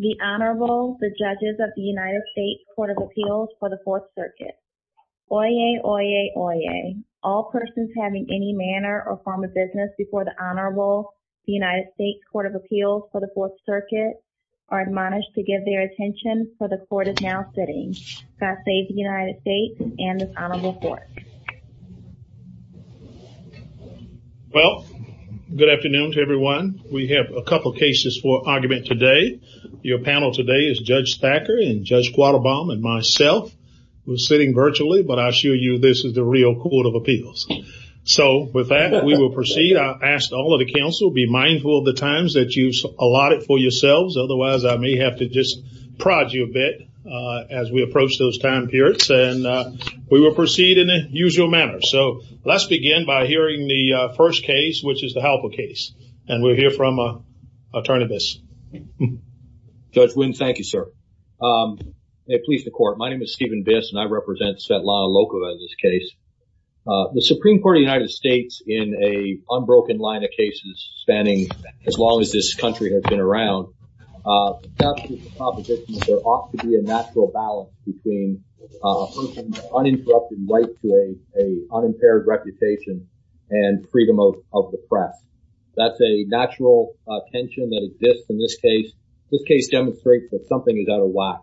The Honorable, the Judges of the United States Court of Appeals for the Fourth Circuit. Oyez, oyez, oyez. All persons having any manner or form of business before the Honorable, the United States Court of Appeals for the Fourth Circuit are admonished to give their attention for the Court is now sitting. God save the United States and this Honorable Court. Well, good afternoon to everyone. We have a couple cases for argument today. Your panel today is Judge Thacker and Judge Quattlebaum and myself. We're sitting virtually, but I assure you this is the real Court of Appeals. So, with that, we will proceed. I ask all of the Council be mindful of the times that you allot it for yourselves. Otherwise, I may have to just prod you a bit as we approach those time periods. And we will proceed in the usual manner. So, let's begin by hearing the first case, which is the Halper case. And we'll hear from Attorney Biss. Judge Wynn, thank you, sir. May it please the Court. My name is Stephen Biss, and I represent Svetlana Lokova in this case. The Supreme Court of the United States, in a unbroken line of cases spanning as long as this country has been around, there ought to be a natural balance between a person's uninterrupted right to an unimpaired reputation and freedom of the press. That's a natural tension that exists in this case. This case demonstrates that something is out of whack.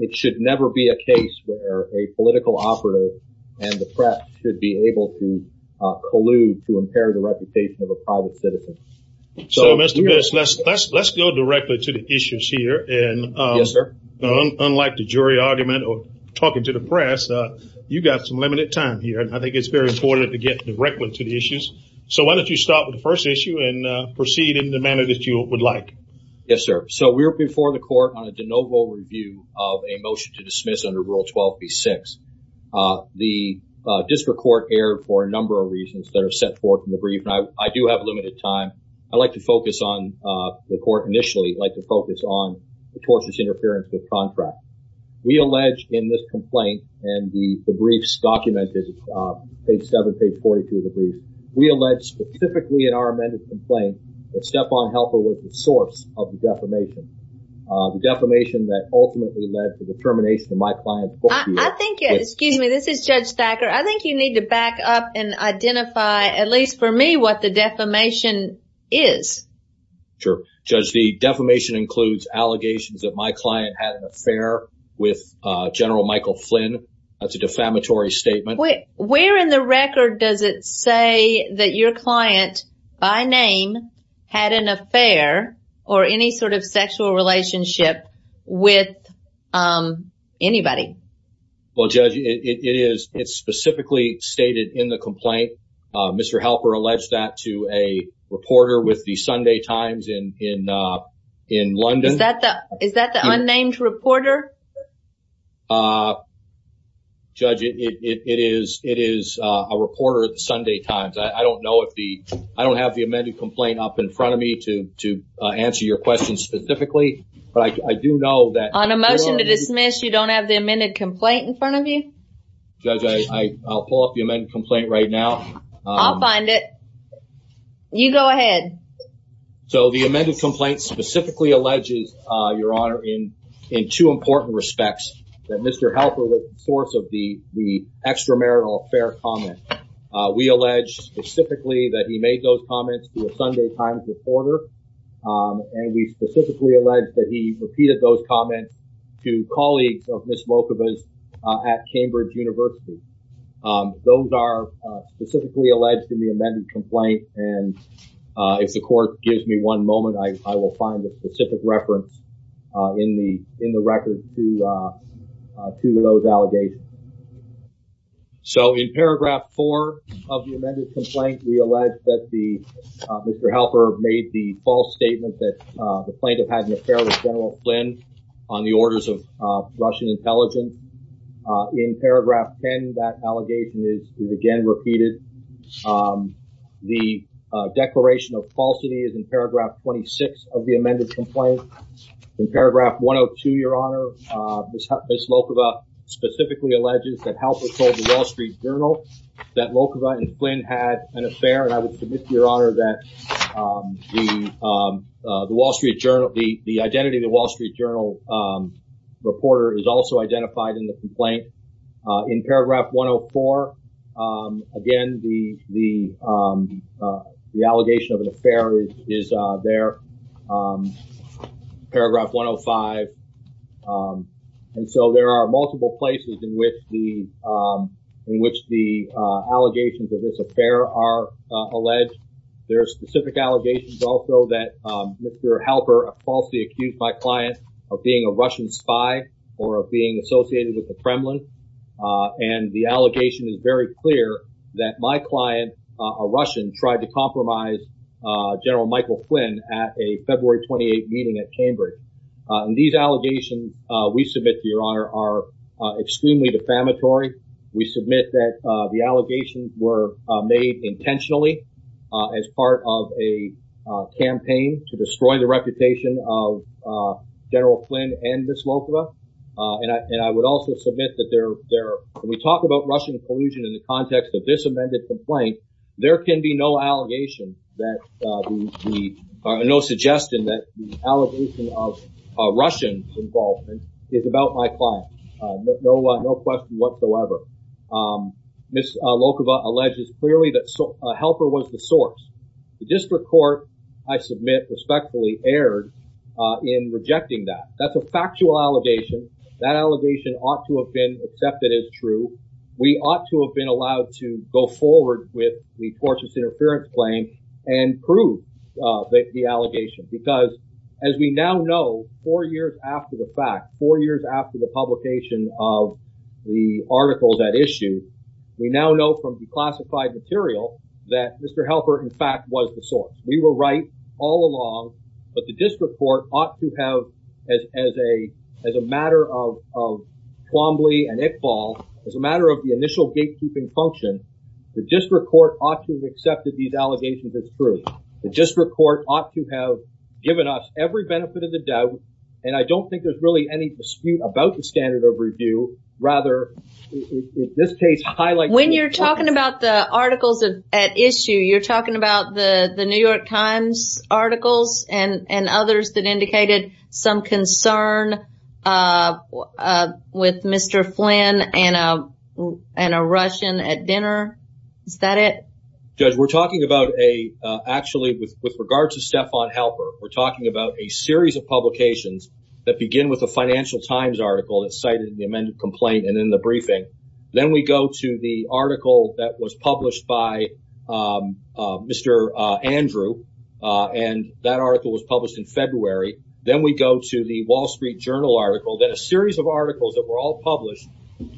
It should never be a case where a political operative and the press should be able to collude to impair the reputation of a private citizen. So, Mr. Biss, let's go directly to the issues here. Yes, sir. Unlike the jury argument or talking to the press, you've got some limited time here. And I think it's very important to get directly to the issues. So, why don't you start with the first issue and proceed in the manner that you would like. Yes, sir. So, we're before the Court on a de novo review of a motion to dismiss under Rule 12b-6. The district court erred for a number of reasons that are set forth in the brief. I do have limited time. I'd like to focus on the court initially. I'd like to focus on the tortious interference with contracts. We allege in this complaint and the briefs documented, page 7, page 42 of the brief, we allege specifically in our amended complaint that Stephon Helfer was the source of the defamation. The defamation that ultimately led to the termination of my client's court view. Excuse me. This is Judge Thacker. I think you need to back up and identify, at least for me, what the defamation is. Sure. Judge, the defamation includes allegations that my client had an affair with General Michael Flynn. That's a defamatory statement. Where in the record does it say that your client, by name, had an affair or any sort of sexual relationship with anybody? Well, Judge, it is specifically stated in the complaint. Mr. Helfer alleged that to a reporter with the Sunday Times in London. Is that the unnamed reporter? Judge, it is a reporter at the Sunday Times. I don't have the amended complaint up in front of me to answer your question specifically. On a motion to dismiss, you don't have the amended complaint in front of you? Judge, I'll pull up the amended complaint right now. I'll find it. You go ahead. So the amended complaint specifically alleges, Your Honor, in two important respects that Mr. Helfer was the source of the extramarital affair comment. We allege specifically that he made those comments to a Sunday Times reporter. And we specifically allege that he repeated those comments to colleagues of Ms. Volkovich at Cambridge University. Those are specifically alleged in the amended complaint. And if the court gives me one moment, I will find a specific reference in the record to those allegations. So in paragraph four of the amended complaint, we allege that Mr. Helfer made the false statement that the plaintiff had an affair with General Flynn on the orders of Russian intelligence. In paragraph 10, that allegation is again repeated. The declaration of falsity is in paragraph 26 of the amended complaint. In paragraph 102, Your Honor, Ms. Volkovich specifically alleges that Helfer told the Wall Street Journal that Volkovich and Flynn had an affair. And I would submit, Your Honor, that the identity of the Wall Street Journal reporter is also identified in the complaint. In paragraph 104, again, the allegation of an affair is there. Paragraph 105. And so there are multiple places in which the in which the allegations of this affair are alleged. There are specific allegations also that Mr. Helper falsely accused my client of being a Russian spy or of being associated with the Kremlin. And the allegation is very clear that my client, a Russian, tried to compromise General Michael Flynn at a February 28 meeting at Cambridge. And these allegations we submit, Your Honor, are extremely defamatory. We submit that the allegations were made intentionally as part of a campaign to destroy the reputation of General Flynn and Ms. Volkovich. And I would also submit that when we talk about Russian collusion in the context of this amended complaint, there can be no suggestion that the allegation of Russian involvement is about my client. No question whatsoever. Ms. Volkovich alleges clearly that Helper was the source. The district court, I submit respectfully, erred in rejecting that. That's a factual allegation. That allegation ought to have been accepted as true. We ought to have been allowed to go forward with the tortious interference claim and prove the allegation. Because as we now know, four years after the fact, four years after the publication of the article that issued, we now know from declassified material that Mr. Helper, in fact, was the source. We were right all along. But the district court ought to have, as a matter of Twombly and Iqbal, as a matter of the initial gatekeeping function, the district court ought to have accepted these allegations as true. The district court ought to have given us every benefit of the doubt. And I don't think there's really any dispute about the standard of review. Rather, in this case, highlights… When you're talking about the articles at issue, you're talking about the New York Times articles and others that indicated some concern with Mr. Flynn and a Russian at dinner. Is that it? Judge, we're talking about a – actually, with regard to Stephon Helper, we're talking about a series of publications that begin with a Financial Times article that's cited in the amended complaint and in the briefing. Then we go to the article that was published by Mr. Andrew, and that article was published in February. Then we go to the Wall Street Journal article, then a series of articles that were all published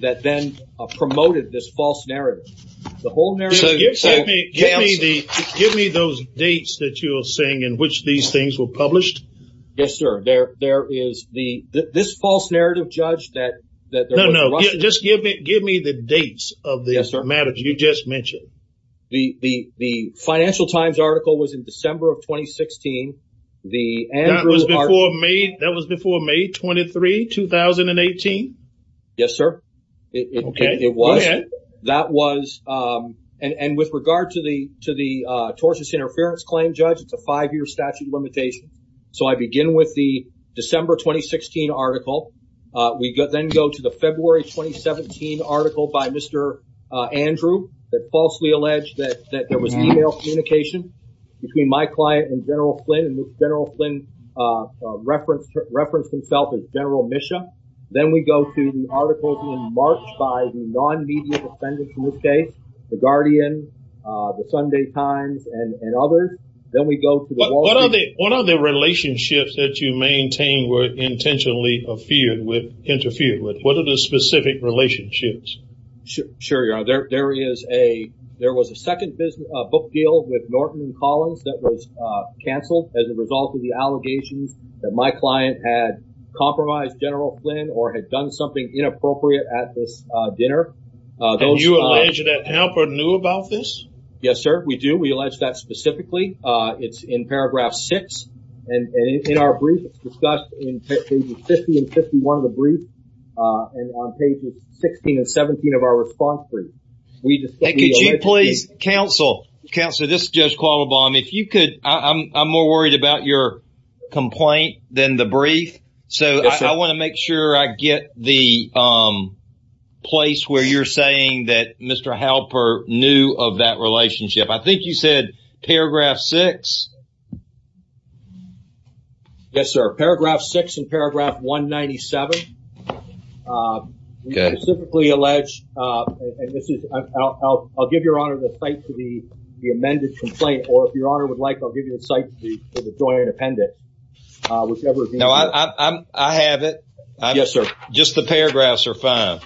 that then promoted this false narrative. The whole narrative… Give me those dates that you were saying in which these things were published. Yes, sir. There is the – this false narrative, Judge, that there was a Russian… No, no, no. Just give me the dates of the matters you just mentioned. The Financial Times article was in December of 2016. That was before May 23, 2018? Yes, sir. Okay. It was. Okay. That was – and with regard to the tortious interference claim, Judge, it's a five-year statute limitation. So I begin with the December 2016 article. We then go to the February 2017 article by Mr. Andrew that falsely alleged that there was email communication between my client and General Flynn, and General Flynn referenced himself as General Misha. Then we go to the article being marked by the nonmedia defendant in this case, the Guardian, the Sunday Times, and others. Then we go to the Wall Street… were intentionally interfered with. What are the specific relationships? Sure, Your Honor. There is a – there was a second book deal with Norton & Collins that was canceled as a result of the allegations that my client had compromised General Flynn or had done something inappropriate at this dinner. And you allege that Hamper knew about this? Yes, sir. We do. We allege that specifically. It's in paragraph six. And in our brief, it's discussed in pages 50 and 51 of the brief and on pages 16 and 17 of our response brief. And could you please – counsel, counsel, this is Judge Qualabong. If you could – I'm more worried about your complaint than the brief. Yes, sir. So I want to make sure I get the place where you're saying that Mr. Halper knew of that relationship. I think you said paragraph six? Yes, sir. Paragraph six in paragraph 197. We specifically allege – and this is – I'll give Your Honor the site for the amended complaint. Or if Your Honor would like, I'll give you the site for the joint appendix, whichever is easier. No, I have it. Yes, sir. Just the paragraphs are fine.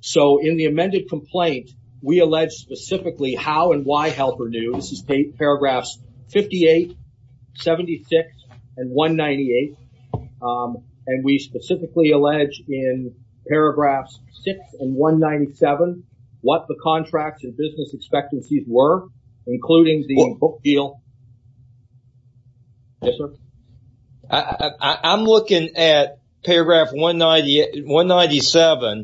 So in the amended complaint, we allege specifically how and why Halper knew. This is paragraphs 58, 76, and 198. And we specifically allege in paragraphs six and 197 what the contracts and business expectancies were, including the book deal. Yes, sir. I'm looking at paragraph 197,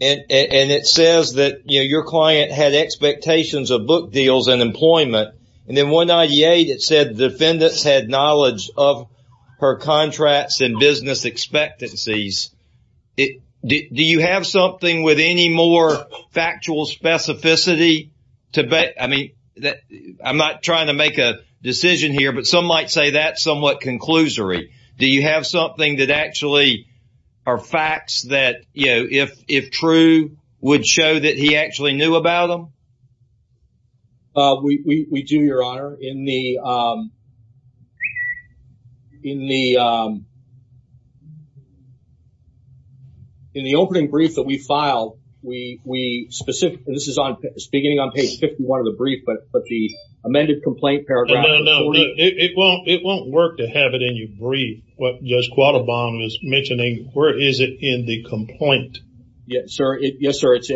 and it says that, you know, your client had expectations of book deals and employment. And then 198, it said defendants had knowledge of her contracts and business expectancies. Do you have something with any more factual specificity? I mean, I'm not trying to make a decision here, but some might say that's somewhat conclusory. Do you have something that actually are facts that, you know, if true, would show that he actually knew about them? We do, Your Honor. Your Honor, in the opening brief that we filed, we specifically, this is beginning on page 51 of the brief, but the amended complaint paragraph. No, no, no. It won't work to have it in your brief, what Judge Quattlebaum is mentioning. Where is it in the complaint? Yes, sir. Yes, sir. It's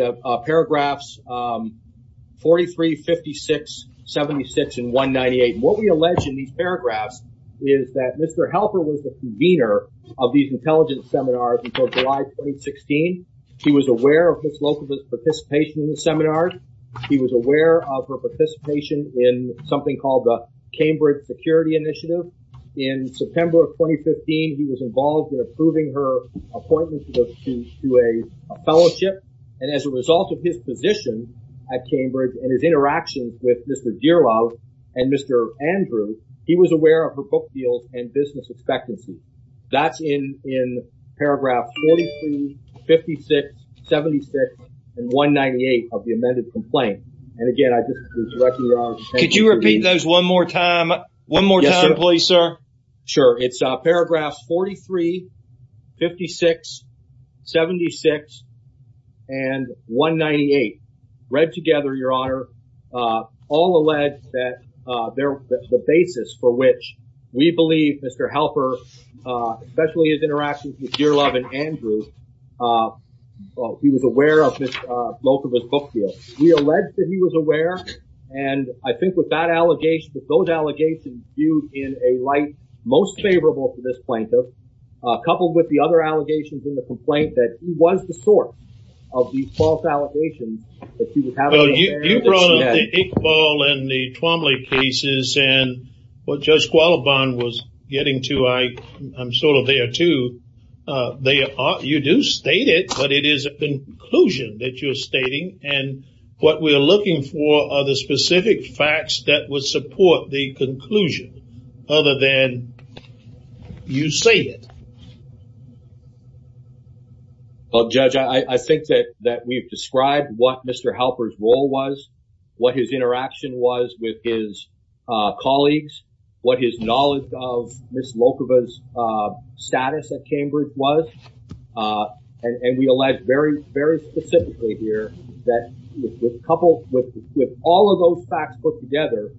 paragraphs 43, 56, 76, and 198. What we allege in these paragraphs is that Mr. Helper was the convener of these intelligence seminars until July 2016. He was aware of his local participation in the seminars. He was aware of her participation in something called the Cambridge Security Initiative. In September of 2015, he was involved in approving her appointment to a fellowship. And as a result of his position at Cambridge and his interactions with Mr. Dearlove and Mr. Andrew, he was aware of her book deals and business expectancy. That's in paragraph 43, 56, 76, and 198 of the amended complaint. And, again, I just want to direct you, Your Honor. Could you repeat those one more time? One more time, please, sir. Sure. It's paragraphs 43, 56, 76, and 198. Read together, Your Honor, all allege that the basis for which we believe Mr. Helper, especially his interactions with Dearlove and Andrew, he was aware of his book deal. We allege that he was aware. And I think with that allegation, with those allegations viewed in a light most favorable for this plaintiff, coupled with the other allegations in the complaint, that he was the source of the false allegations that he was having. Well, you brought up the Hick ball and the Twombly cases and what Judge Qualibon was getting to. I'm sort of there, too. You do state it, but it is a conclusion that you're stating. And what we are looking for are the specific facts that would support the conclusion other than you say it. Well, Judge, I think that we've described what Mr. Helper's role was, what his interaction was with his colleagues, what his knowledge of Ms. Lokova's status at Cambridge was. And we allege very, very specifically here that with all of those facts put together,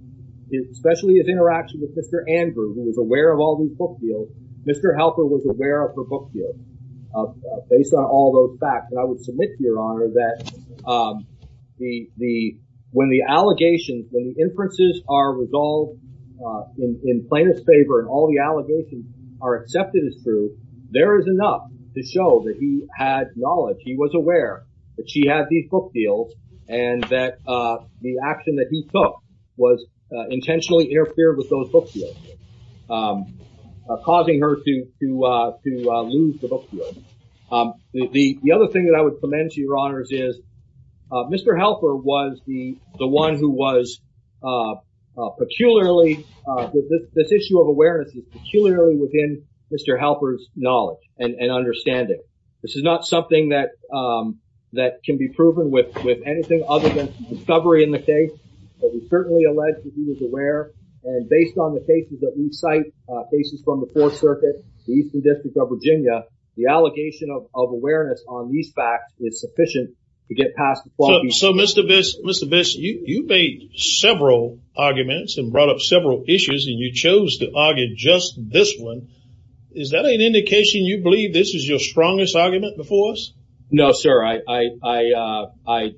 especially his interaction with Mr. Andrew, who was aware of all these book deals, Mr. Helper was aware of her book deal based on all those facts. And I would submit to Your Honor that when the allegations, when the inferences are resolved in plaintiff's favor and all the allegations are accepted as true, there is enough to show that he had knowledge. He was aware that she had these book deals and that the action that he took was intentionally interfered with those book deals, causing her to lose the book deal. The other thing that I would commend to Your Honors is Mr. Helper was the one who was peculiarly, this issue of awareness is peculiarly within Mr. Helper's knowledge and understanding. This is not something that can be proven with anything other than discovery in the case. But we certainly allege that he was aware. And based on the cases that we cite, cases from the Fourth Circuit, the Eastern District of Virginia, the allegation of awareness on these facts is sufficient to get past the point. So, Mr. Biss, you made several arguments and brought up several issues and you chose to argue just this one. Is that an indication you believe this is your strongest argument before us? No, sir. I filed a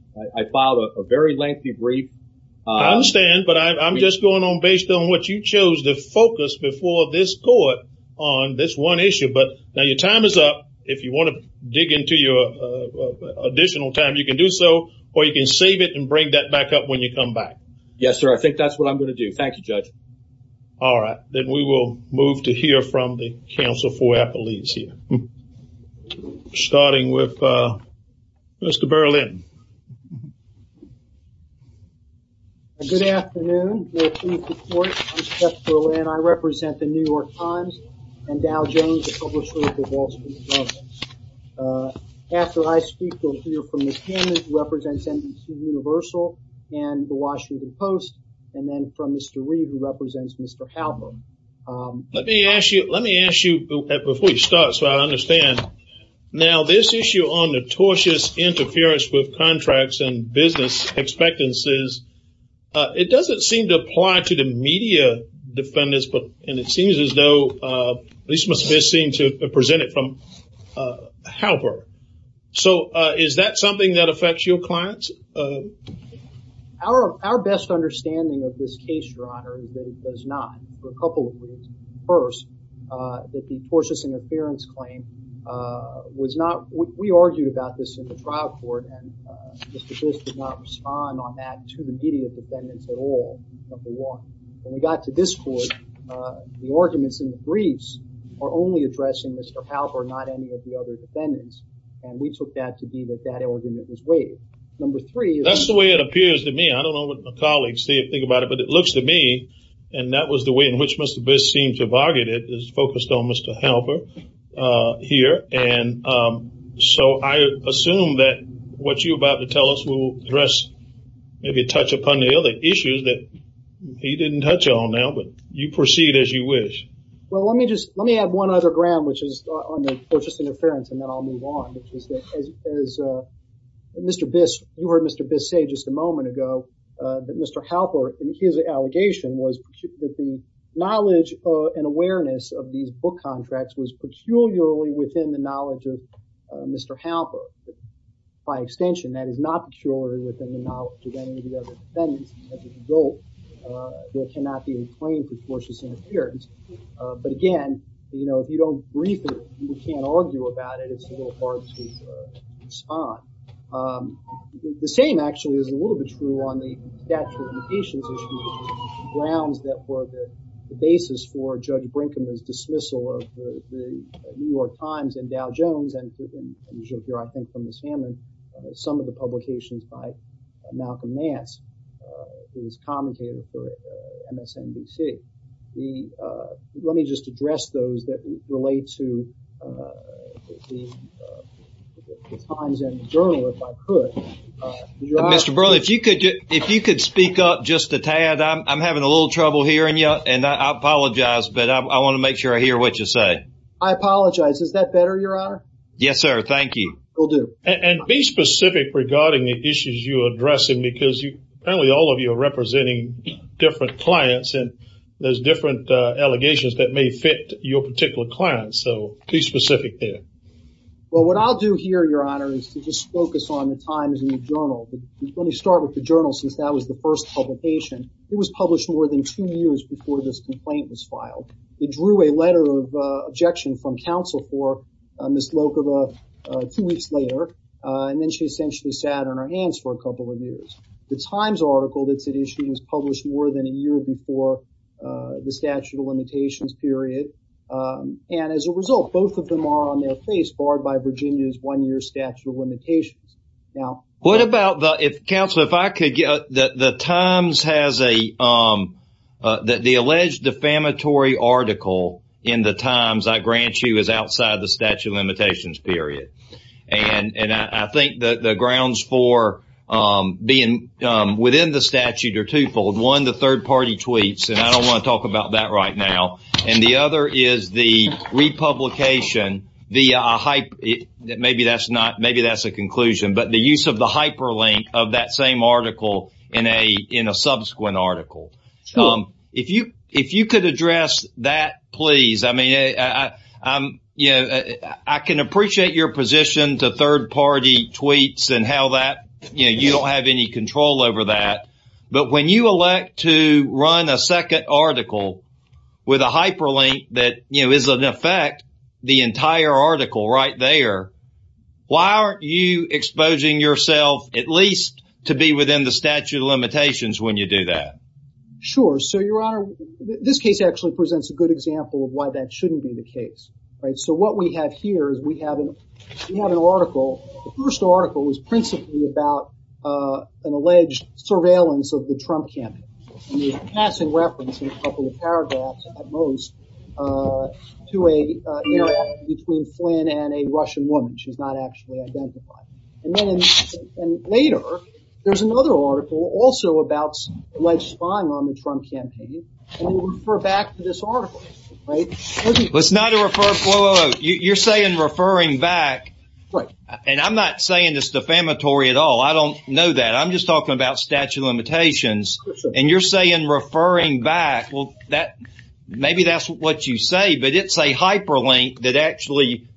very lengthy brief. I understand, but I'm just going on based on what you chose to focus before this court on this one issue. But now your time is up. If you want to dig into your additional time, you can do so or you can save it and bring that back up when you come back. Yes, sir. I think that's what I'm going to do. Thank you, Judge. All right, then we will move to hear from the counsel for Appalachia, starting with Mr. Berlin. Good afternoon. I represent the New York Times and Dow Jones, the publisher of the Wall Street Journal. After I speak, we'll hear from Mr. Hammond, who represents NBC Universal and the Washington Post, and then from Mr. Reed, who represents Mr. Halberd. Let me ask you, before you start, so I understand. Now, this issue on notorious interference with contracts and business expectancies, it doesn't seem to apply to the media defendants, and it seems as though this must be seen to be presented from Halberd. So is that something that affects your clients? Our best understanding of this case, Your Honor, is that it does not. For a couple of reasons. First, that the forceless interference claim was not – we argued about this in the trial court, and Mr. Biss did not respond on that to the media defendants at all, number one. When we got to this court, the arguments in the briefs are only addressing Mr. Halberd, not any of the other defendants, and we took that to be that that argument was waived. Number three – That's the way it appears to me. I don't know what my colleagues think about it, but it looks to me, and that was the way in which Mr. Biss seemed to have argued it, is focused on Mr. Halberd here. And so I assume that what you're about to tell us will address, maybe touch upon the other issues that he didn't touch on now, but you proceed as you wish. Well, let me just – let me add one other ground, which is on the forceless interference, and then I'll move on, which is that as Mr. Biss – you heard Mr. Biss say just a moment ago that Mr. Halberd, his allegation was that the knowledge and awareness of these book contracts was peculiarly within the knowledge of Mr. Halberd. By extension, that is not peculiarly within the knowledge of any of the other defendants, and as a result, there cannot be a claim for forceless interference. But again, you know, if you don't brief it, you can't argue about it. It's a little hard to respond. The same actually is a little bit true on the statute of limitations issues, the grounds that were the basis for Judge Brinkman's dismissal of the New York Times and Dow Jones, and as you'll hear, I think, from Ms. Hammond, some of the publications by Malcolm Nance, who was commentator for MSNBC. Let me just address those that relate to the Times and the Journal, if I could. Mr. Brewer, if you could speak up just a tad. I'm having a little trouble hearing you, and I apologize, but I want to make sure I hear what you say. I apologize. Is that better, Your Honor? Yes, sir. Thank you. Will do. And be specific regarding the issues you're addressing, because apparently all of you are representing different clients, and there's different allegations that may fit your particular clients, so be specific there. Well, what I'll do here, Your Honor, is to just focus on the Times and the Journal. Let me start with the Journal, since that was the first publication. It was published more than two years before this complaint was filed. It drew a letter of objection from counsel for Ms. Lokova two weeks later, and then she essentially sat on her hands for a couple of years. The Times article that it issued was published more than a year before the statute of limitations period, and as a result, both of them are on their face, barred by Virginia's one-year statute of limitations. What about the – counsel, if I could get – the Times has a – the alleged defamatory article in the Times, I grant you, is outside the statute of limitations period, and I think the grounds for being within the statute are twofold. One, the third-party tweets, and I don't want to talk about that right now, and the other is the republication, the – maybe that's not – maybe that's a conclusion, but the use of the hyperlink of that same article in a subsequent article. If you could address that, please. I mean, I can appreciate your position to third-party tweets and how that – you don't have any control over that, but when you elect to run a second article with a hyperlink that, you know, is in effect the entire article right there, why aren't you exposing yourself at least to be within the statute of limitations when you do that? Sure. So, Your Honor, this case actually presents a good example of why that shouldn't be the case, right? So what we have here is we have an article. The first article is principally about an alleged surveillance of the Trump campaign, and there's a passing reference in a couple of paragraphs, at most, to an interaction between Flynn and a Russian woman. She's not actually identified. And then later, there's another article also about alleged spying on the Trump campaign, and we refer back to this article, right? Let's not refer – whoa, whoa, whoa. You're saying referring back, and I'm not saying it's defamatory at all. I don't know that. I'm just talking about statute of limitations, and you're saying referring back. Well, maybe that's what you say, but it's a hyperlink that actually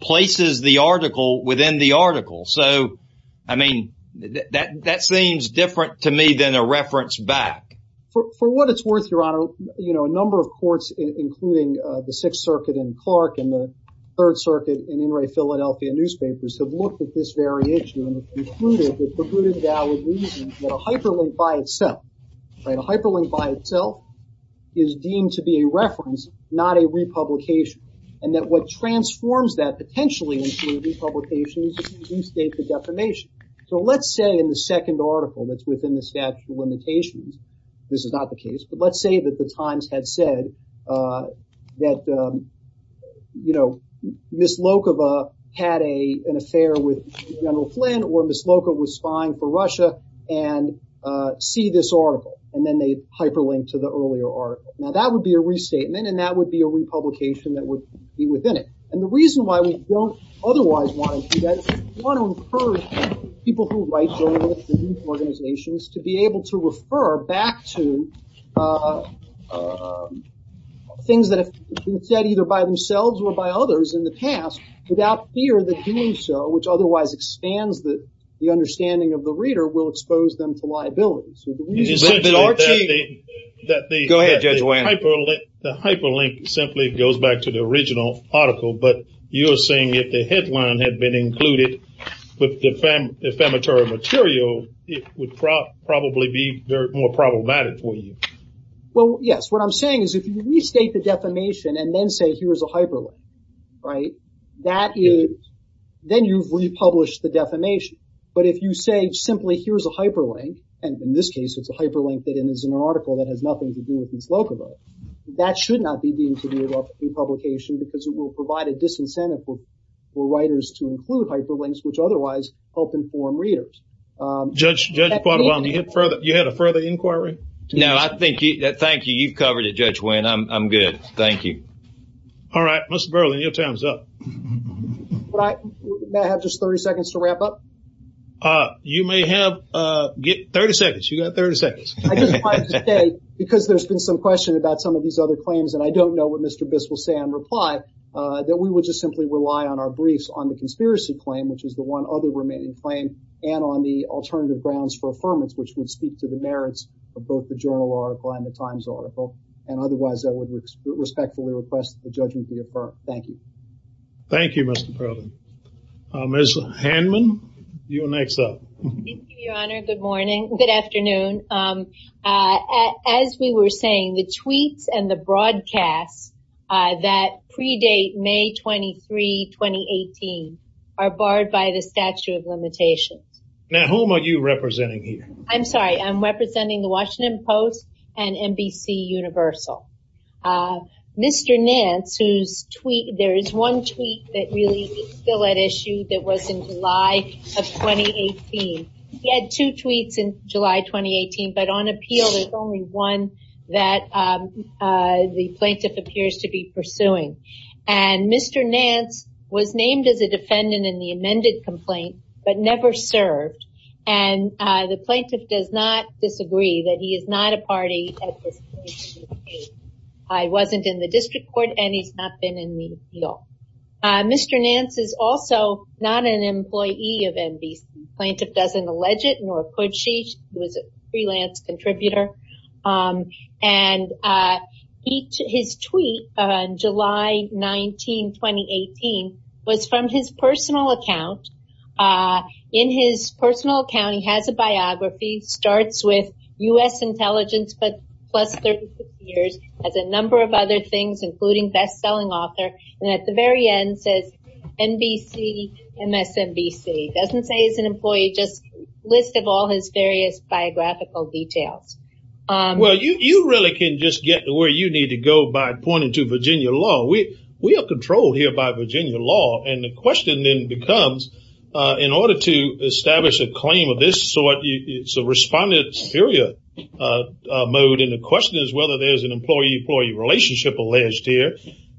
places the article within the article. So, I mean, that seems different to me than a reference back. For what it's worth, Your Honor, you know, a number of courts, including the Sixth Circuit in Clark and the Third Circuit in Inouye, Philadelphia newspapers, have looked at this variation and concluded that a hyperlink by itself, right, a hyperlink by itself is deemed to be a reference, not a republication, and that what transforms that potentially into a republication is if you restate the defamation. So let's say in the second article that's within the statute of limitations – this is not the case, but let's say that the Times had said that, you know, Ms. Lokova had an affair with General Flynn or Ms. Lokova was spying for Russia and see this article, and then they hyperlinked to the earlier article. Now, that would be a restatement, and that would be a republication that would be within it, and the reason why we don't otherwise want to do that is we want to encourage people who write journals and organizations to be able to refer back to things that have been said either by themselves or by others in the past without fear that doing so, which otherwise expands the understanding of the reader, will expose them to liability. Go ahead, Judge Wayne. The hyperlink simply goes back to the original article, but you're saying if the headline had been included with the ephemeral material, it would probably be more problematic for you. Well, yes. What I'm saying is if you restate the defamation and then say here's a hyperlink, right, that is – then you've republished the defamation. But if you say simply here's a hyperlink, and in this case it's a hyperlink that is in an article that has nothing to do with Ms. Lokova, that should not be the intended republication because it will provide a disincentive for writers to include hyperlinks which otherwise help inform readers. Judge Quattlebaum, you had a further inquiry? No, I think – thank you. You've covered it, Judge Wayne. I'm good. Thank you. All right. Mr. Burling, your time is up. May I have just 30 seconds to wrap up? You may have – 30 seconds. You've got 30 seconds. I just wanted to say because there's been some question about some of these other claims, and I don't know what Mr. Biss will say in reply, that we would just simply rely on our briefs on the conspiracy claim, which is the one other remaining claim, and on the alternative grounds for affirmance, which would speak to the merits of both the journal article and the Times article. And otherwise, I would respectfully request that the judgment be affirmed. Thank you. Thank you, Mr. Burling. Ms. Handman, you're next up. Thank you, Your Honor. Good morning – good afternoon. As we were saying, the tweets and the broadcasts that predate May 23, 2018 are barred by the statute of limitations. Now, whom are you representing here? I'm sorry. I'm representing the Washington Post and NBC Universal. Mr. Nance, whose tweet – there is one tweet that really is still at issue that was in July of 2018. He had two tweets in July 2018, but on appeal, there's only one that the plaintiff appears to be pursuing. And Mr. Nance was named as a defendant in the amended complaint, but never served. And the plaintiff does not disagree that he is not a party at this case. He wasn't in the district court, and he's not been in the appeal. Mr. Nance is also not an employee of NBC. The plaintiff doesn't allege it, nor could she. He was a freelance contributor. And his tweet on July 19, 2018, was from his personal account. In his personal account, he has a biography. Starts with U.S. intelligence, but plus 35 years. Has a number of other things, including best-selling author. And at the very end, says NBC, MSNBC. Doesn't say he's an employee, just a list of all his various biographical details. Well, you really can just get to where you need to go by pointing to Virginia law. We are controlled here by Virginia law. And the question then becomes, in order to establish a claim of this sort, it's a respondent superior mode. And the question is whether there's an employee-employee relationship alleged here.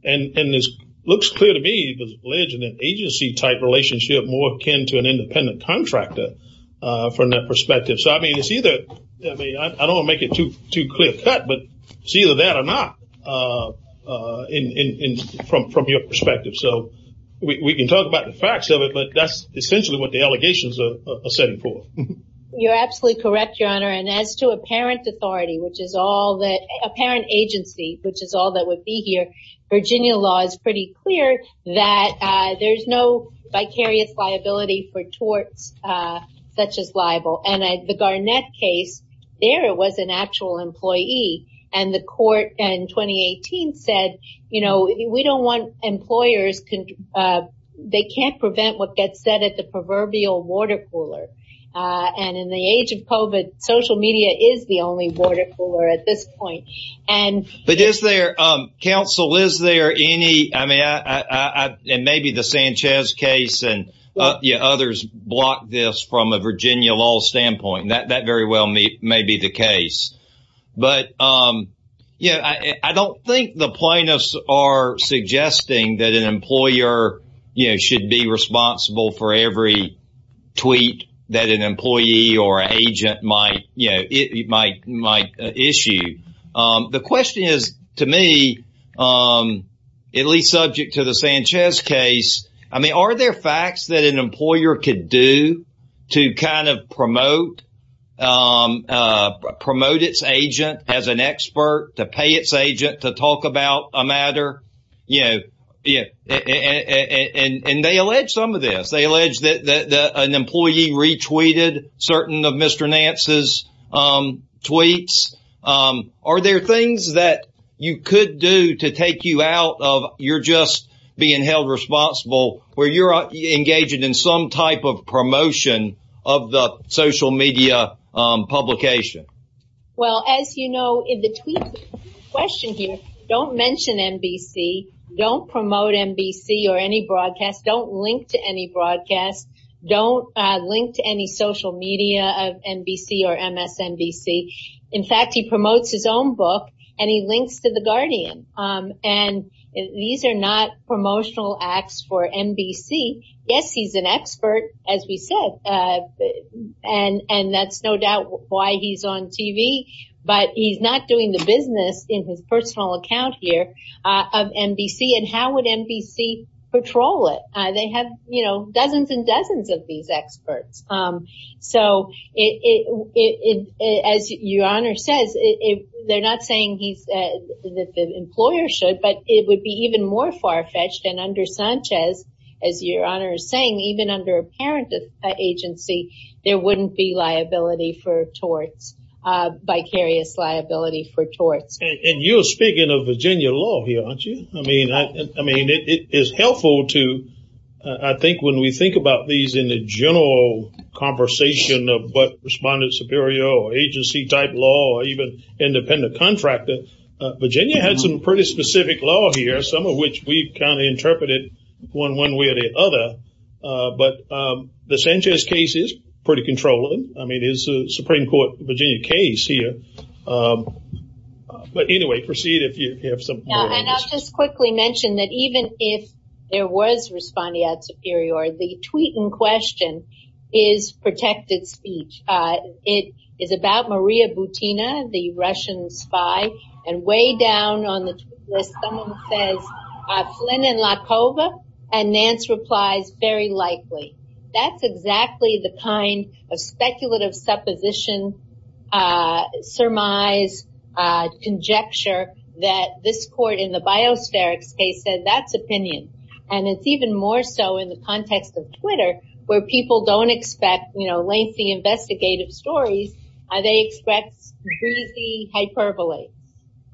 And it looks clear to me there's an agency-type relationship more akin to an independent contractor from that perspective. So, I mean, I don't want to make it too clear-cut, but it's either that or not from your perspective. So, we can talk about the facts of it, but that's essentially what the allegations are setting for. And as to apparent authority, apparent agency, which is all that would be here, Virginia law is pretty clear that there's no vicarious liability for torts such as libel. And the Garnett case, there it was an actual employee. And the court in 2018 said, you know, we don't want employers, they can't prevent what gets said at the proverbial water cooler. And in the age of COVID, social media is the only water cooler at this point. But is there, counsel, is there any, I mean, and maybe the Sanchez case and others block this from a Virginia law standpoint. That very well may be the case. But, you know, I don't think the plaintiffs are suggesting that an employer should be responsible for every tweet that an employee or agent might issue. The question is, to me, at least subject to the Sanchez case, I mean, are there facts that an employer could do to kind of promote, promote its agent as an expert, to pay its agent to talk about a matter? Yeah. Yeah. And they allege some of this. They allege that an employee retweeted certain of Mr. Nance's tweets. Are there things that you could do to take you out of you're just being held responsible where you're engaged in some type of promotion of the social media publication? Well, as you know, in the tweet question here, don't mention NBC, don't promote NBC or any broadcasts, don't link to any broadcasts. Don't link to any social media of NBC or MSNBC. In fact, he promotes his own book and he links to The Guardian. And these are not promotional acts for NBC. Yes, he's an expert, as we said, and and that's no doubt why he's on TV. But he's not doing the business in his personal account here of NBC. And how would NBC patrol it? They have, you know, dozens and dozens of these experts. So it is, as your honor says, they're not saying he's that the employer should, but it would be even more far fetched. And under Sanchez, as your honor is saying, even under a parent agency, there wouldn't be liability for torts, vicarious liability for torts. And you're speaking of Virginia law here, aren't you? I mean, I mean, it is helpful to I think when we think about these in the general conversation of what Respondent Superior or agency type law or even independent contractor, Virginia had some pretty specific law here, some of which we kind of interpreted one way or the other. But the Sanchez case is pretty controlling. I mean, it is a Supreme Court, Virginia case here. But anyway, proceed if you have some. And I'll just quickly mention that even if there was Respondent Superior, the tweet in question is protected speech. It is about Maria Butina, the Russian spy. And way down on the list, someone says Flynn and Lakova. And Nance replies, very likely. That's exactly the kind of speculative supposition, surmise, conjecture that this court in the biospherics case said that's opinion. And it's even more so in the context of Twitter, where people don't expect, you know, lengthy investigative stories. They expect breezy hyperbole.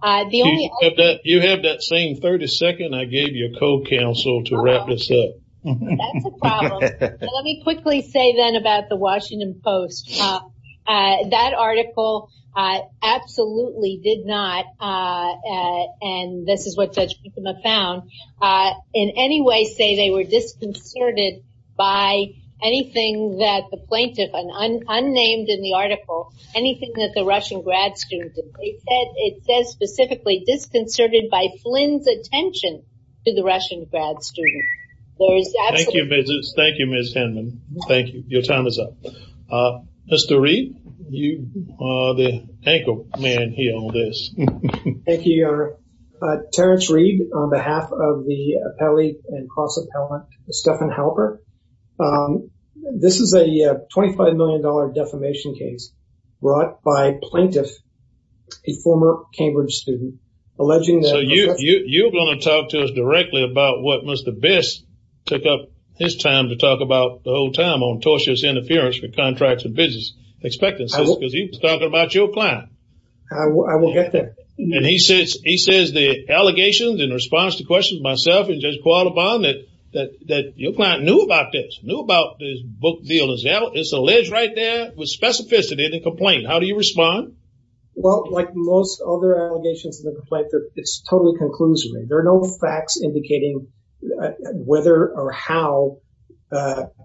You have that same 30 second I gave you a co-counsel to wrap this up. That's a problem. Let me quickly say, then, about the Washington Post. That article absolutely did not, and this is what Judge Riekma found, in any way say they were disconcerted by anything that the plaintiff, unnamed in the article, anything that the Russian grad student did. It says specifically disconcerted by Flynn's attention to the Russian grad student. Thank you, Ms. Hinman. Thank you. Your time is up. Mr. Reed, you are the anchor man here on this. Thank you, Your Honor. Terence Reed on behalf of the appellee and cross-appellant, Stephan Halper. This is a $25 million defamation case brought by a plaintiff, a former Cambridge student, alleging that- You're going to talk to us directly about what Mr. Biss took up his time to talk about the whole time on tortuous interference with contracts and business expectancies. He was talking about your client. I will get there. He says the allegations in response to questions myself and Judge Qualabon that your client knew about this, knew about this book deal. It's alleged right there with specificity of the complaint. How do you respond? Well, like most other allegations in the complaint, it's totally conclusive. There are no facts indicating whether or how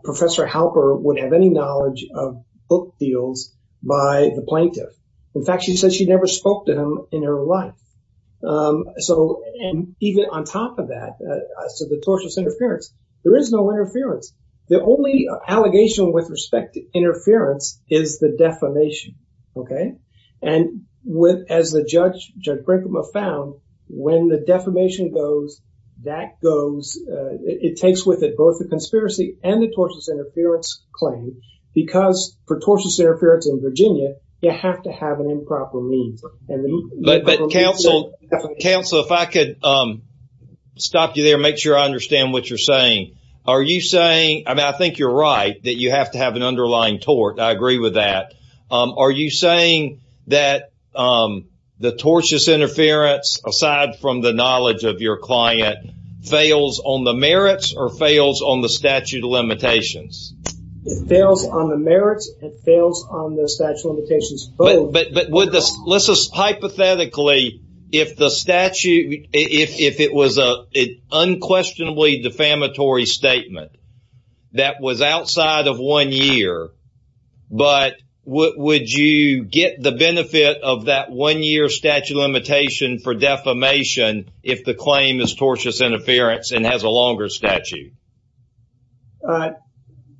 Professor Halper would have any knowledge of book deals by the plaintiff. In fact, she says she never spoke to him in her life. So even on top of that, so the tortuous interference, there is no interference. The only allegation with respect to interference is the defamation. Okay. And as Judge Brinkman found, when the defamation goes, that goes, it takes with it both the conspiracy and the tortuous interference claim. Because for tortuous interference in Virginia, you have to have an improper means. But counsel, counsel, if I could stop you there, make sure I understand what you're saying. Are you saying I mean, I think you're right that you have to have an underlying tort. I agree with that. Are you saying that the tortuous interference, aside from the knowledge of your client, fails on the merits or fails on the statute of limitations? It fails on the merits. It fails on the statute of limitations. But hypothetically, if the statute, if it was an unquestionably defamatory statement that was outside of one year, but would you get the benefit of that one year statute limitation for defamation if the claim is tortuous interference and has a longer statute?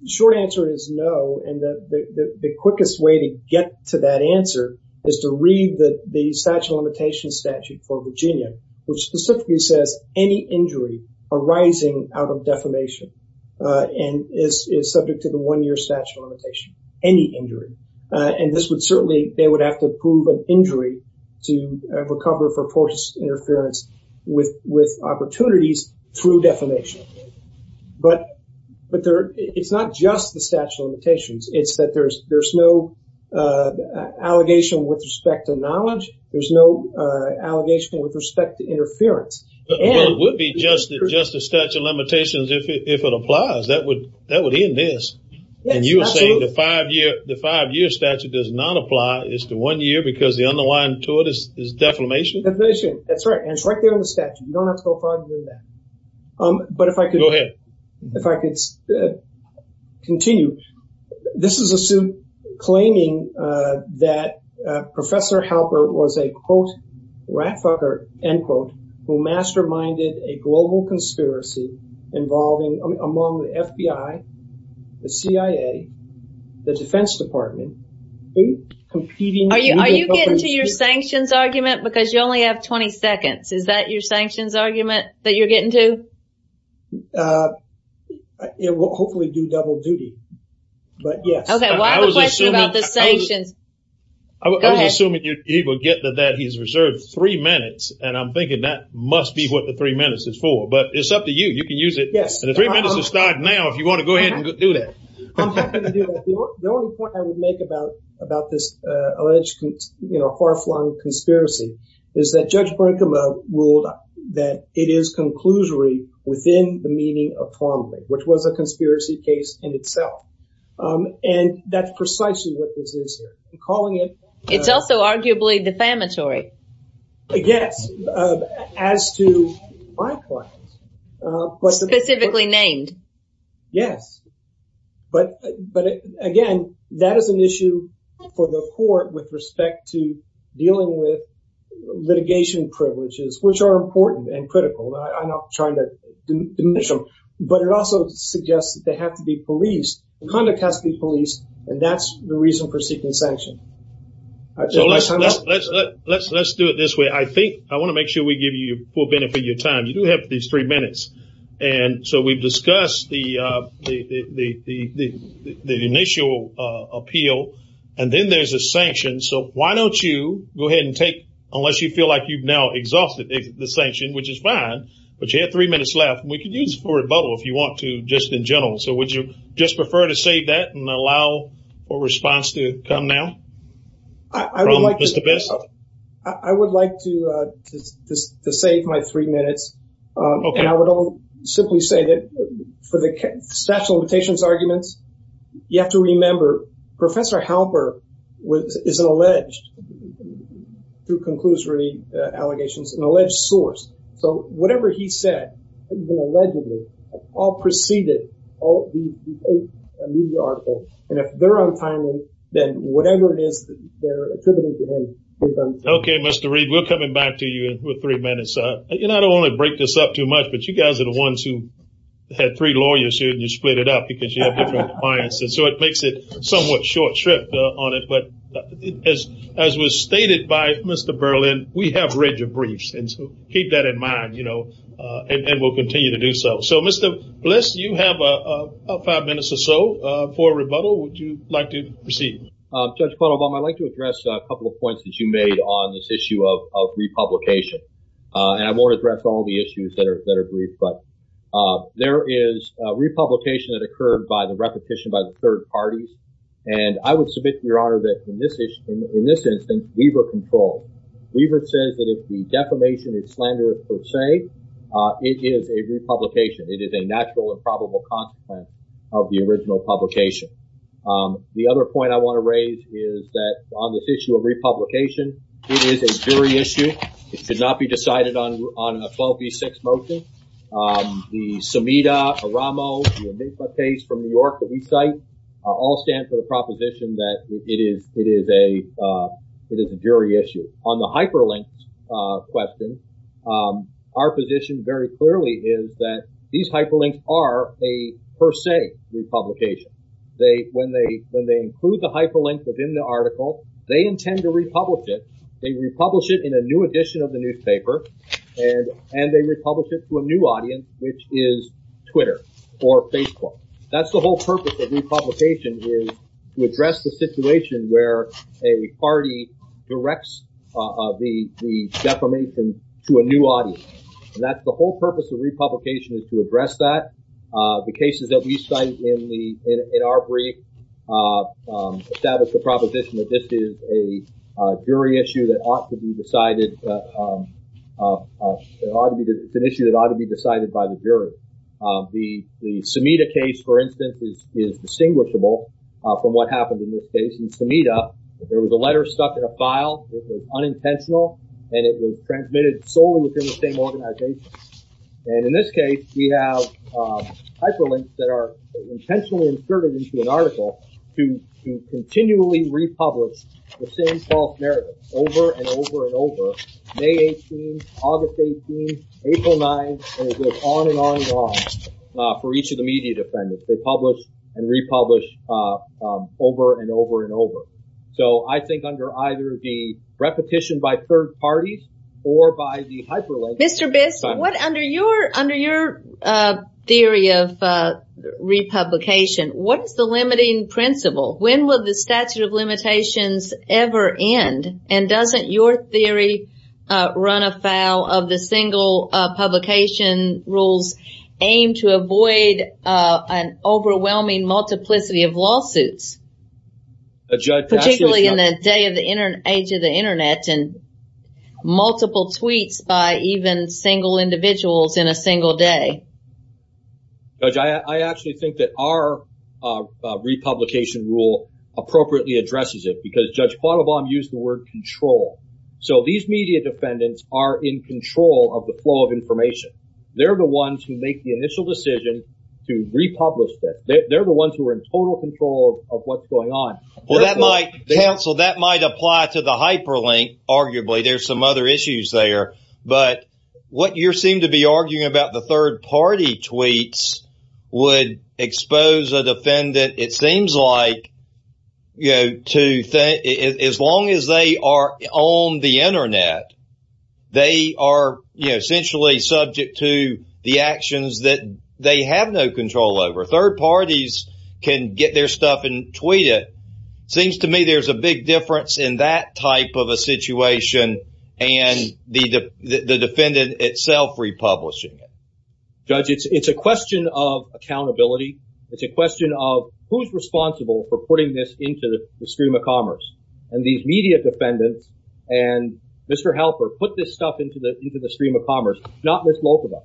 Short answer is no. And the quickest way to get to that answer is to read the statute of limitations statute for Virginia, which specifically says any injury arising out of defamation and is subject to the one year statute of limitation, any injury. And this would certainly, they would have to prove an injury to recover for tortuous interference with opportunities through defamation. But it's not just the statute of limitations. It's that there's no allegation with respect to knowledge. There's no allegation with respect to interference. It would be just the statute of limitations if it applies. That would end this. And you are saying the five year statute does not apply. It's the one year because the underlying to it is defamation? Defamation, that's right. And it's right there in the statute. You don't have to go farther than that. But if I could. Go ahead. If I could continue. This is a suit claiming that Professor Halper was a, quote, rat fucker, end quote, who masterminded a global conspiracy involving among the FBI, the CIA, the Defense Department. Are you getting to your sanctions argument? Because you only have 20 seconds. Is that your sanctions argument that you're getting to? It will hopefully do double duty. But, yes. Okay. Well, I have a question about the sanctions. Go ahead. I was assuming he would get to that. He's reserved three minutes. And I'm thinking that must be what the three minutes is for. But it's up to you. You can use it. Yes. And the three minutes has started now if you want to go ahead and do that. I'm happy to do that. The only point I would make about this alleged, you know, far flung conspiracy is that Judge Frankema ruled that it is conclusory within the meaning of formally, which was a conspiracy case in itself. And that's precisely what this is. It's also arguably defamatory. Yes. As to my clients. Specifically named. Yes. But, again, that is an issue for the court with respect to dealing with litigation privileges, which are important and critical. I'm not trying to diminish them. But it also suggests that they have to be policed. Conduct has to be policed. And that's the reason for seeking sanction. Let's do it this way. I want to make sure we give you full benefit of your time. You do have these three minutes. And so we've discussed the initial appeal. And then there's a sanction. So why don't you go ahead and take, unless you feel like you've now exhausted the sanction, which is fine. But you have three minutes left. And we can use it for rebuttal if you want to, just in general. So would you just prefer to save that and allow a response to come now? I would like to save my three minutes. Okay. And I would simply say that for the statute of limitations arguments, you have to remember, Professor Halper is an alleged, through conclusory allegations, an alleged source. So whatever he said, even allegedly, all preceded a media article. And if they're untimely, then whatever it is they're attributing to him is untimely. Okay, Mr. Reed. We're coming back to you with three minutes. You know, I don't want to break this up too much, but you guys are the ones who had three lawyers here, and you split it up because you have different clients. And so it makes it somewhat short shrift on it. But as was stated by Mr. Berlin, we have rigid briefs. And so keep that in mind, you know, and we'll continue to do so. So, Mr. Bliss, you have about five minutes or so for rebuttal. Would you like to proceed? Judge Quattlebaum, I'd like to address a couple of points that you made on this issue of republication. And I won't address all the issues that are brief, but there is republication that occurred by the repetition by the third parties. And I would submit to Your Honor that in this instance, we were controlled. Weaver says that if the defamation is slander per se, it is a republication. It is a natural and probable consequence of the original publication. The other point I want to raise is that on this issue of republication, it is a jury issue. It should not be decided on a 12 v. 6 motion. The Sumida-Oramo case from New York that we cite all stand for the proposition that it is a jury issue. On the hyperlink question, our position very clearly is that these hyperlinks are a per se republication. When they include the hyperlink within the article, they intend to republish it. They republish it in a new edition of the newspaper, and they republish it to a new audience, which is Twitter or Facebook. That's the whole purpose of republication is to address the situation where a party directs the defamation to a new audience. And that's the whole purpose of republication is to address that. The cases that we cite in our brief establish the proposition that this is a jury issue that ought to be decided. It's an issue that ought to be decided by the jury. The Sumida case, for instance, is distinguishable from what happened in this case. In Sumida, there was a letter stuck in a file that was unintentional, and it was transmitted solely within the same organization. And in this case, we have hyperlinks that are intentionally inserted into an article to continually republish the same false narrative over and over and over. May 18, August 18, April 9, and it goes on and on and on for each of the media defendants. They publish and republish over and over and over. So I think under either the repetition by third parties or by the hyperlink. Mr. Biss, under your theory of republication, what is the limiting principle? When will the statute of limitations ever end? And doesn't your theory run afoul of the single publication rules aimed to avoid an overwhelming multiplicity of lawsuits? Particularly in the age of the Internet and multiple tweets by even single individuals in a single day. Judge, I actually think that our republication rule appropriately addresses it because Judge Quattlebaum used the word control. So these media defendants are in control of the flow of information. They're the ones who make the initial decision to republish that. They're the ones who are in total control of what's going on. Well, that might cancel. That might apply to the hyperlink. Arguably, there's some other issues there. But what you seem to be arguing about the third party tweets would expose a defendant. It seems like, you know, to as long as they are on the Internet, they are essentially subject to the actions that they have no control over. So third parties can get their stuff and tweet it. Seems to me there's a big difference in that type of a situation and the defendant itself republishing it. Judge, it's a question of accountability. It's a question of who's responsible for putting this into the stream of commerce. And these media defendants and Mr. Helper put this stuff into the stream of commerce, not Miss Lokaba.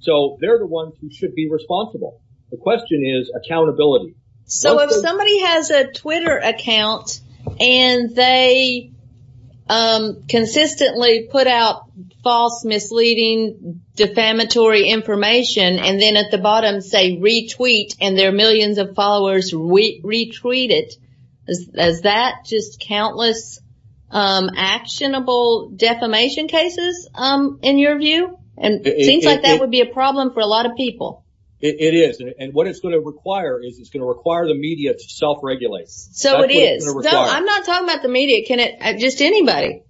So they're the ones who should be responsible. The question is accountability. So if somebody has a Twitter account and they consistently put out false, misleading, defamatory information, and then at the bottom say retweet and their millions of followers retweet it, is that just countless actionable defamation cases in your view? And it seems like that would be a problem for a lot of people. It is. And what it's going to require is it's going to require the media to self-regulate. So it is. I'm not talking about the media. Just anybody.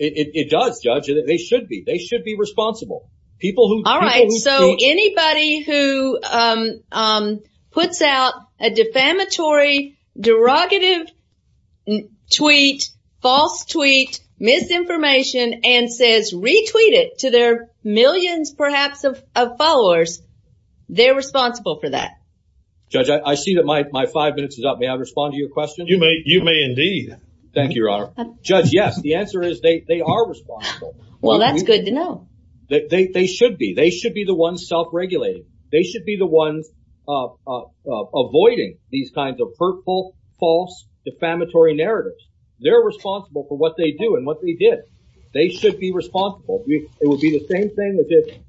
It does, Judge. They should be. They should be responsible. All right. So anybody who puts out a defamatory, derogative tweet, false tweet, misinformation, and says retweet it to their millions perhaps of followers, they're responsible for that. Judge, I see that my five minutes is up. May I respond to your question? You may indeed. Thank you, Your Honor. Judge, yes. The answer is they are responsible. Well, that's good to know. They should be. They should be the ones self-regulating. They should be the ones avoiding these kinds of hurtful, false, defamatory narratives. They're responsible for what they do and what they did. They should be responsible. It would be the same thing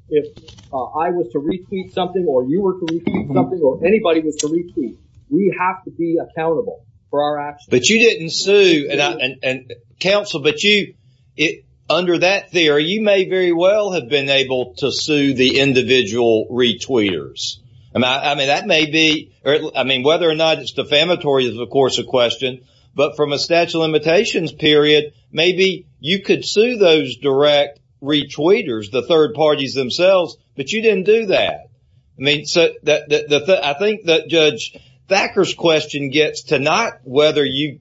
if I was to retweet something or you were to retweet something or anybody was to retweet. We have to be accountable for our actions. But you didn't sue. Counsel, under that theory, you may very well have been able to sue the individual retweeters. I mean, whether or not it's defamatory is, of course, a question. But from a statute of limitations period, maybe you could sue those direct retweeters, the third parties themselves, but you didn't do that. I think that Judge Thacker's question gets to not whether you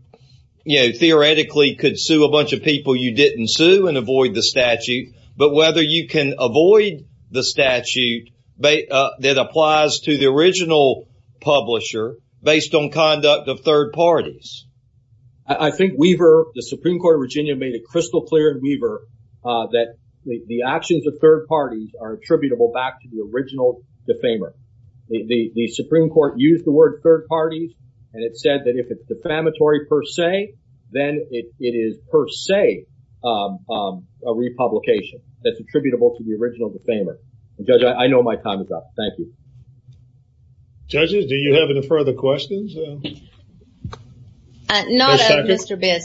theoretically could sue a bunch of people you didn't sue and avoid the statute, but whether you can avoid the statute that applies to the original publisher based on conduct of third parties. I think Weaver, the Supreme Court of Virginia, made it crystal clear in Weaver that the actions of third parties are attributable back to the original defamer. The Supreme Court used the word third parties and it said that if it's defamatory per se, then it is per se a republication that's attributable to the original defamer. Judge, I know my time is up. Thank you. Judges, do you have any further questions? Not of Mr. Biss.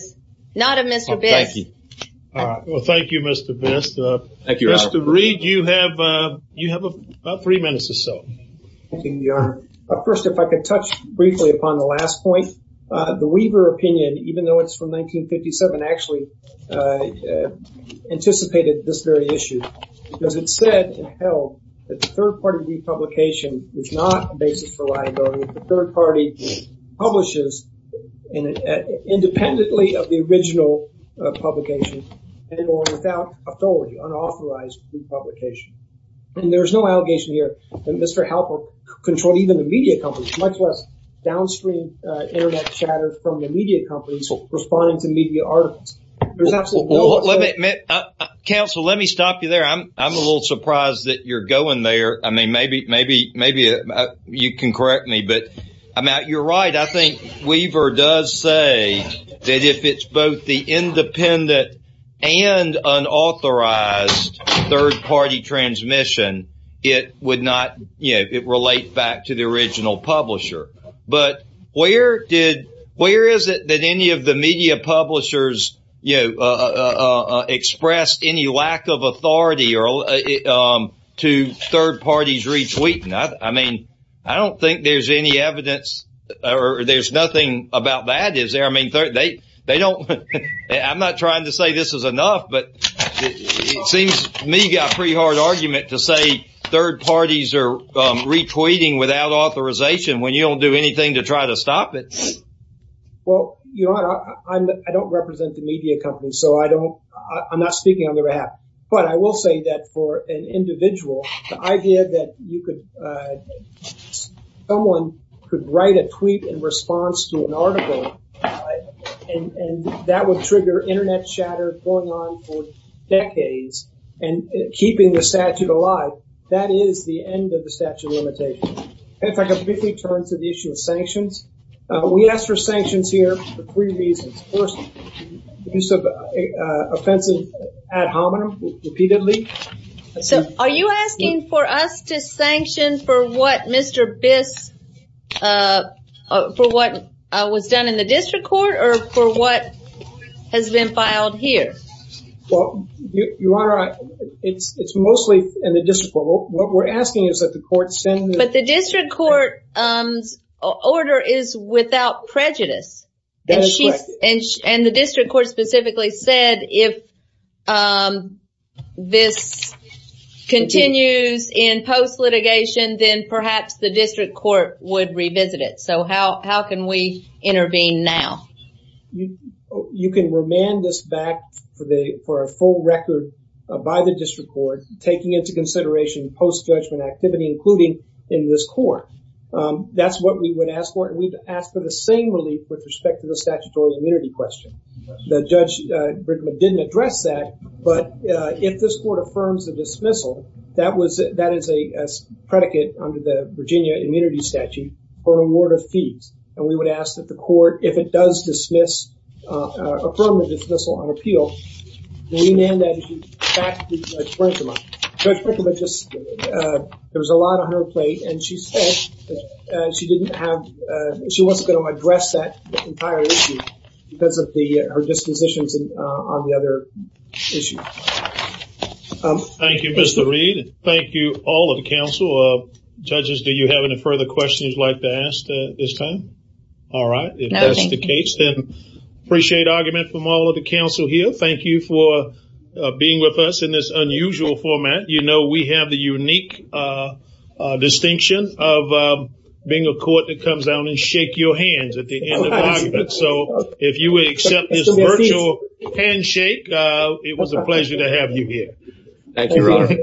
Not of Mr. Biss. Thank you. Well, thank you, Mr. Biss. Thank you, Your Honor. Mr. Reed, you have about three minutes or so. Thank you, Your Honor. First, if I could touch briefly upon the last point. The Weaver opinion, even though it's from 1957, actually anticipated this very issue because it said and held that the third party republication is not a basis for liability. The third party publishes independently of the original publication and without authority, unauthorized republication. And there's no allegation here that Mr. Halper controlled even the media companies, much less downstream internet chatter from the media companies responding to media articles. There's absolutely no— Counsel, let me stop you there. I'm a little surprised that you're going there. I mean, maybe you can correct me, but you're right. I think Weaver does say that if it's both the independent and unauthorized third party transmission, it would not—it would relate back to the original publisher. But where is it that any of the media publishers expressed any lack of authority to third parties retweeting? I mean, I don't think there's any evidence or there's nothing about that, is there? I mean, they don't—I'm not trying to say this is enough, but it seems to me you've got a pretty hard argument to say third parties are retweeting without authorization when you don't do anything to try to stop it. Well, Your Honor, I don't represent the media companies, so I don't—I'm not speaking on their behalf. But I will say that for an individual, the idea that you could— someone could write a tweet in response to an article and that would trigger internet chatter going on for decades and keeping the statute alive, that is the end of the statute of limitations. If I could briefly turn to the issue of sanctions. We asked for sanctions here for three reasons. First, the use of offensive ad hominem repeatedly. So are you asking for us to sanction for what Mr. Biss—for what was done in the district court or for what has been filed here? Well, Your Honor, it's mostly in the district court. What we're asking is that the court send— But the district court's order is without prejudice. That is correct. And the district court specifically said if this continues in post-litigation, then perhaps the district court would revisit it. So how can we intervene now? You can remand this back for the—for a full record by the district court, taking into consideration post-judgment activity, including in this court. That's what we would ask for. And we've asked for the same relief with respect to the statutory immunity question. The Judge Brinkman didn't address that. But if this court affirms the dismissal, that was—that is a predicate under the Virginia Immunity Statute for award of fees. And we would ask that the court, if it does dismiss—affirm the dismissal on appeal, remand that issue back to Judge Brinkman. Judge Brinkman just—there was a lot on her plate, and she said that she didn't have— she wasn't going to address that entire issue because of the—her dispositions on the other issue. Thank you, Mr. Reed. Thank you, all of the counsel. Judges, do you have any further questions you'd like to ask at this time? All right. If that's the case, then I appreciate argument from all of the counsel here. Thank you for being with us in this unusual format. You know we have the unique distinction of being a court that comes down and shake your hands at the end of arguments. So if you would accept this virtual handshake, it was a pleasure to have you here. Thank you, Your Honor.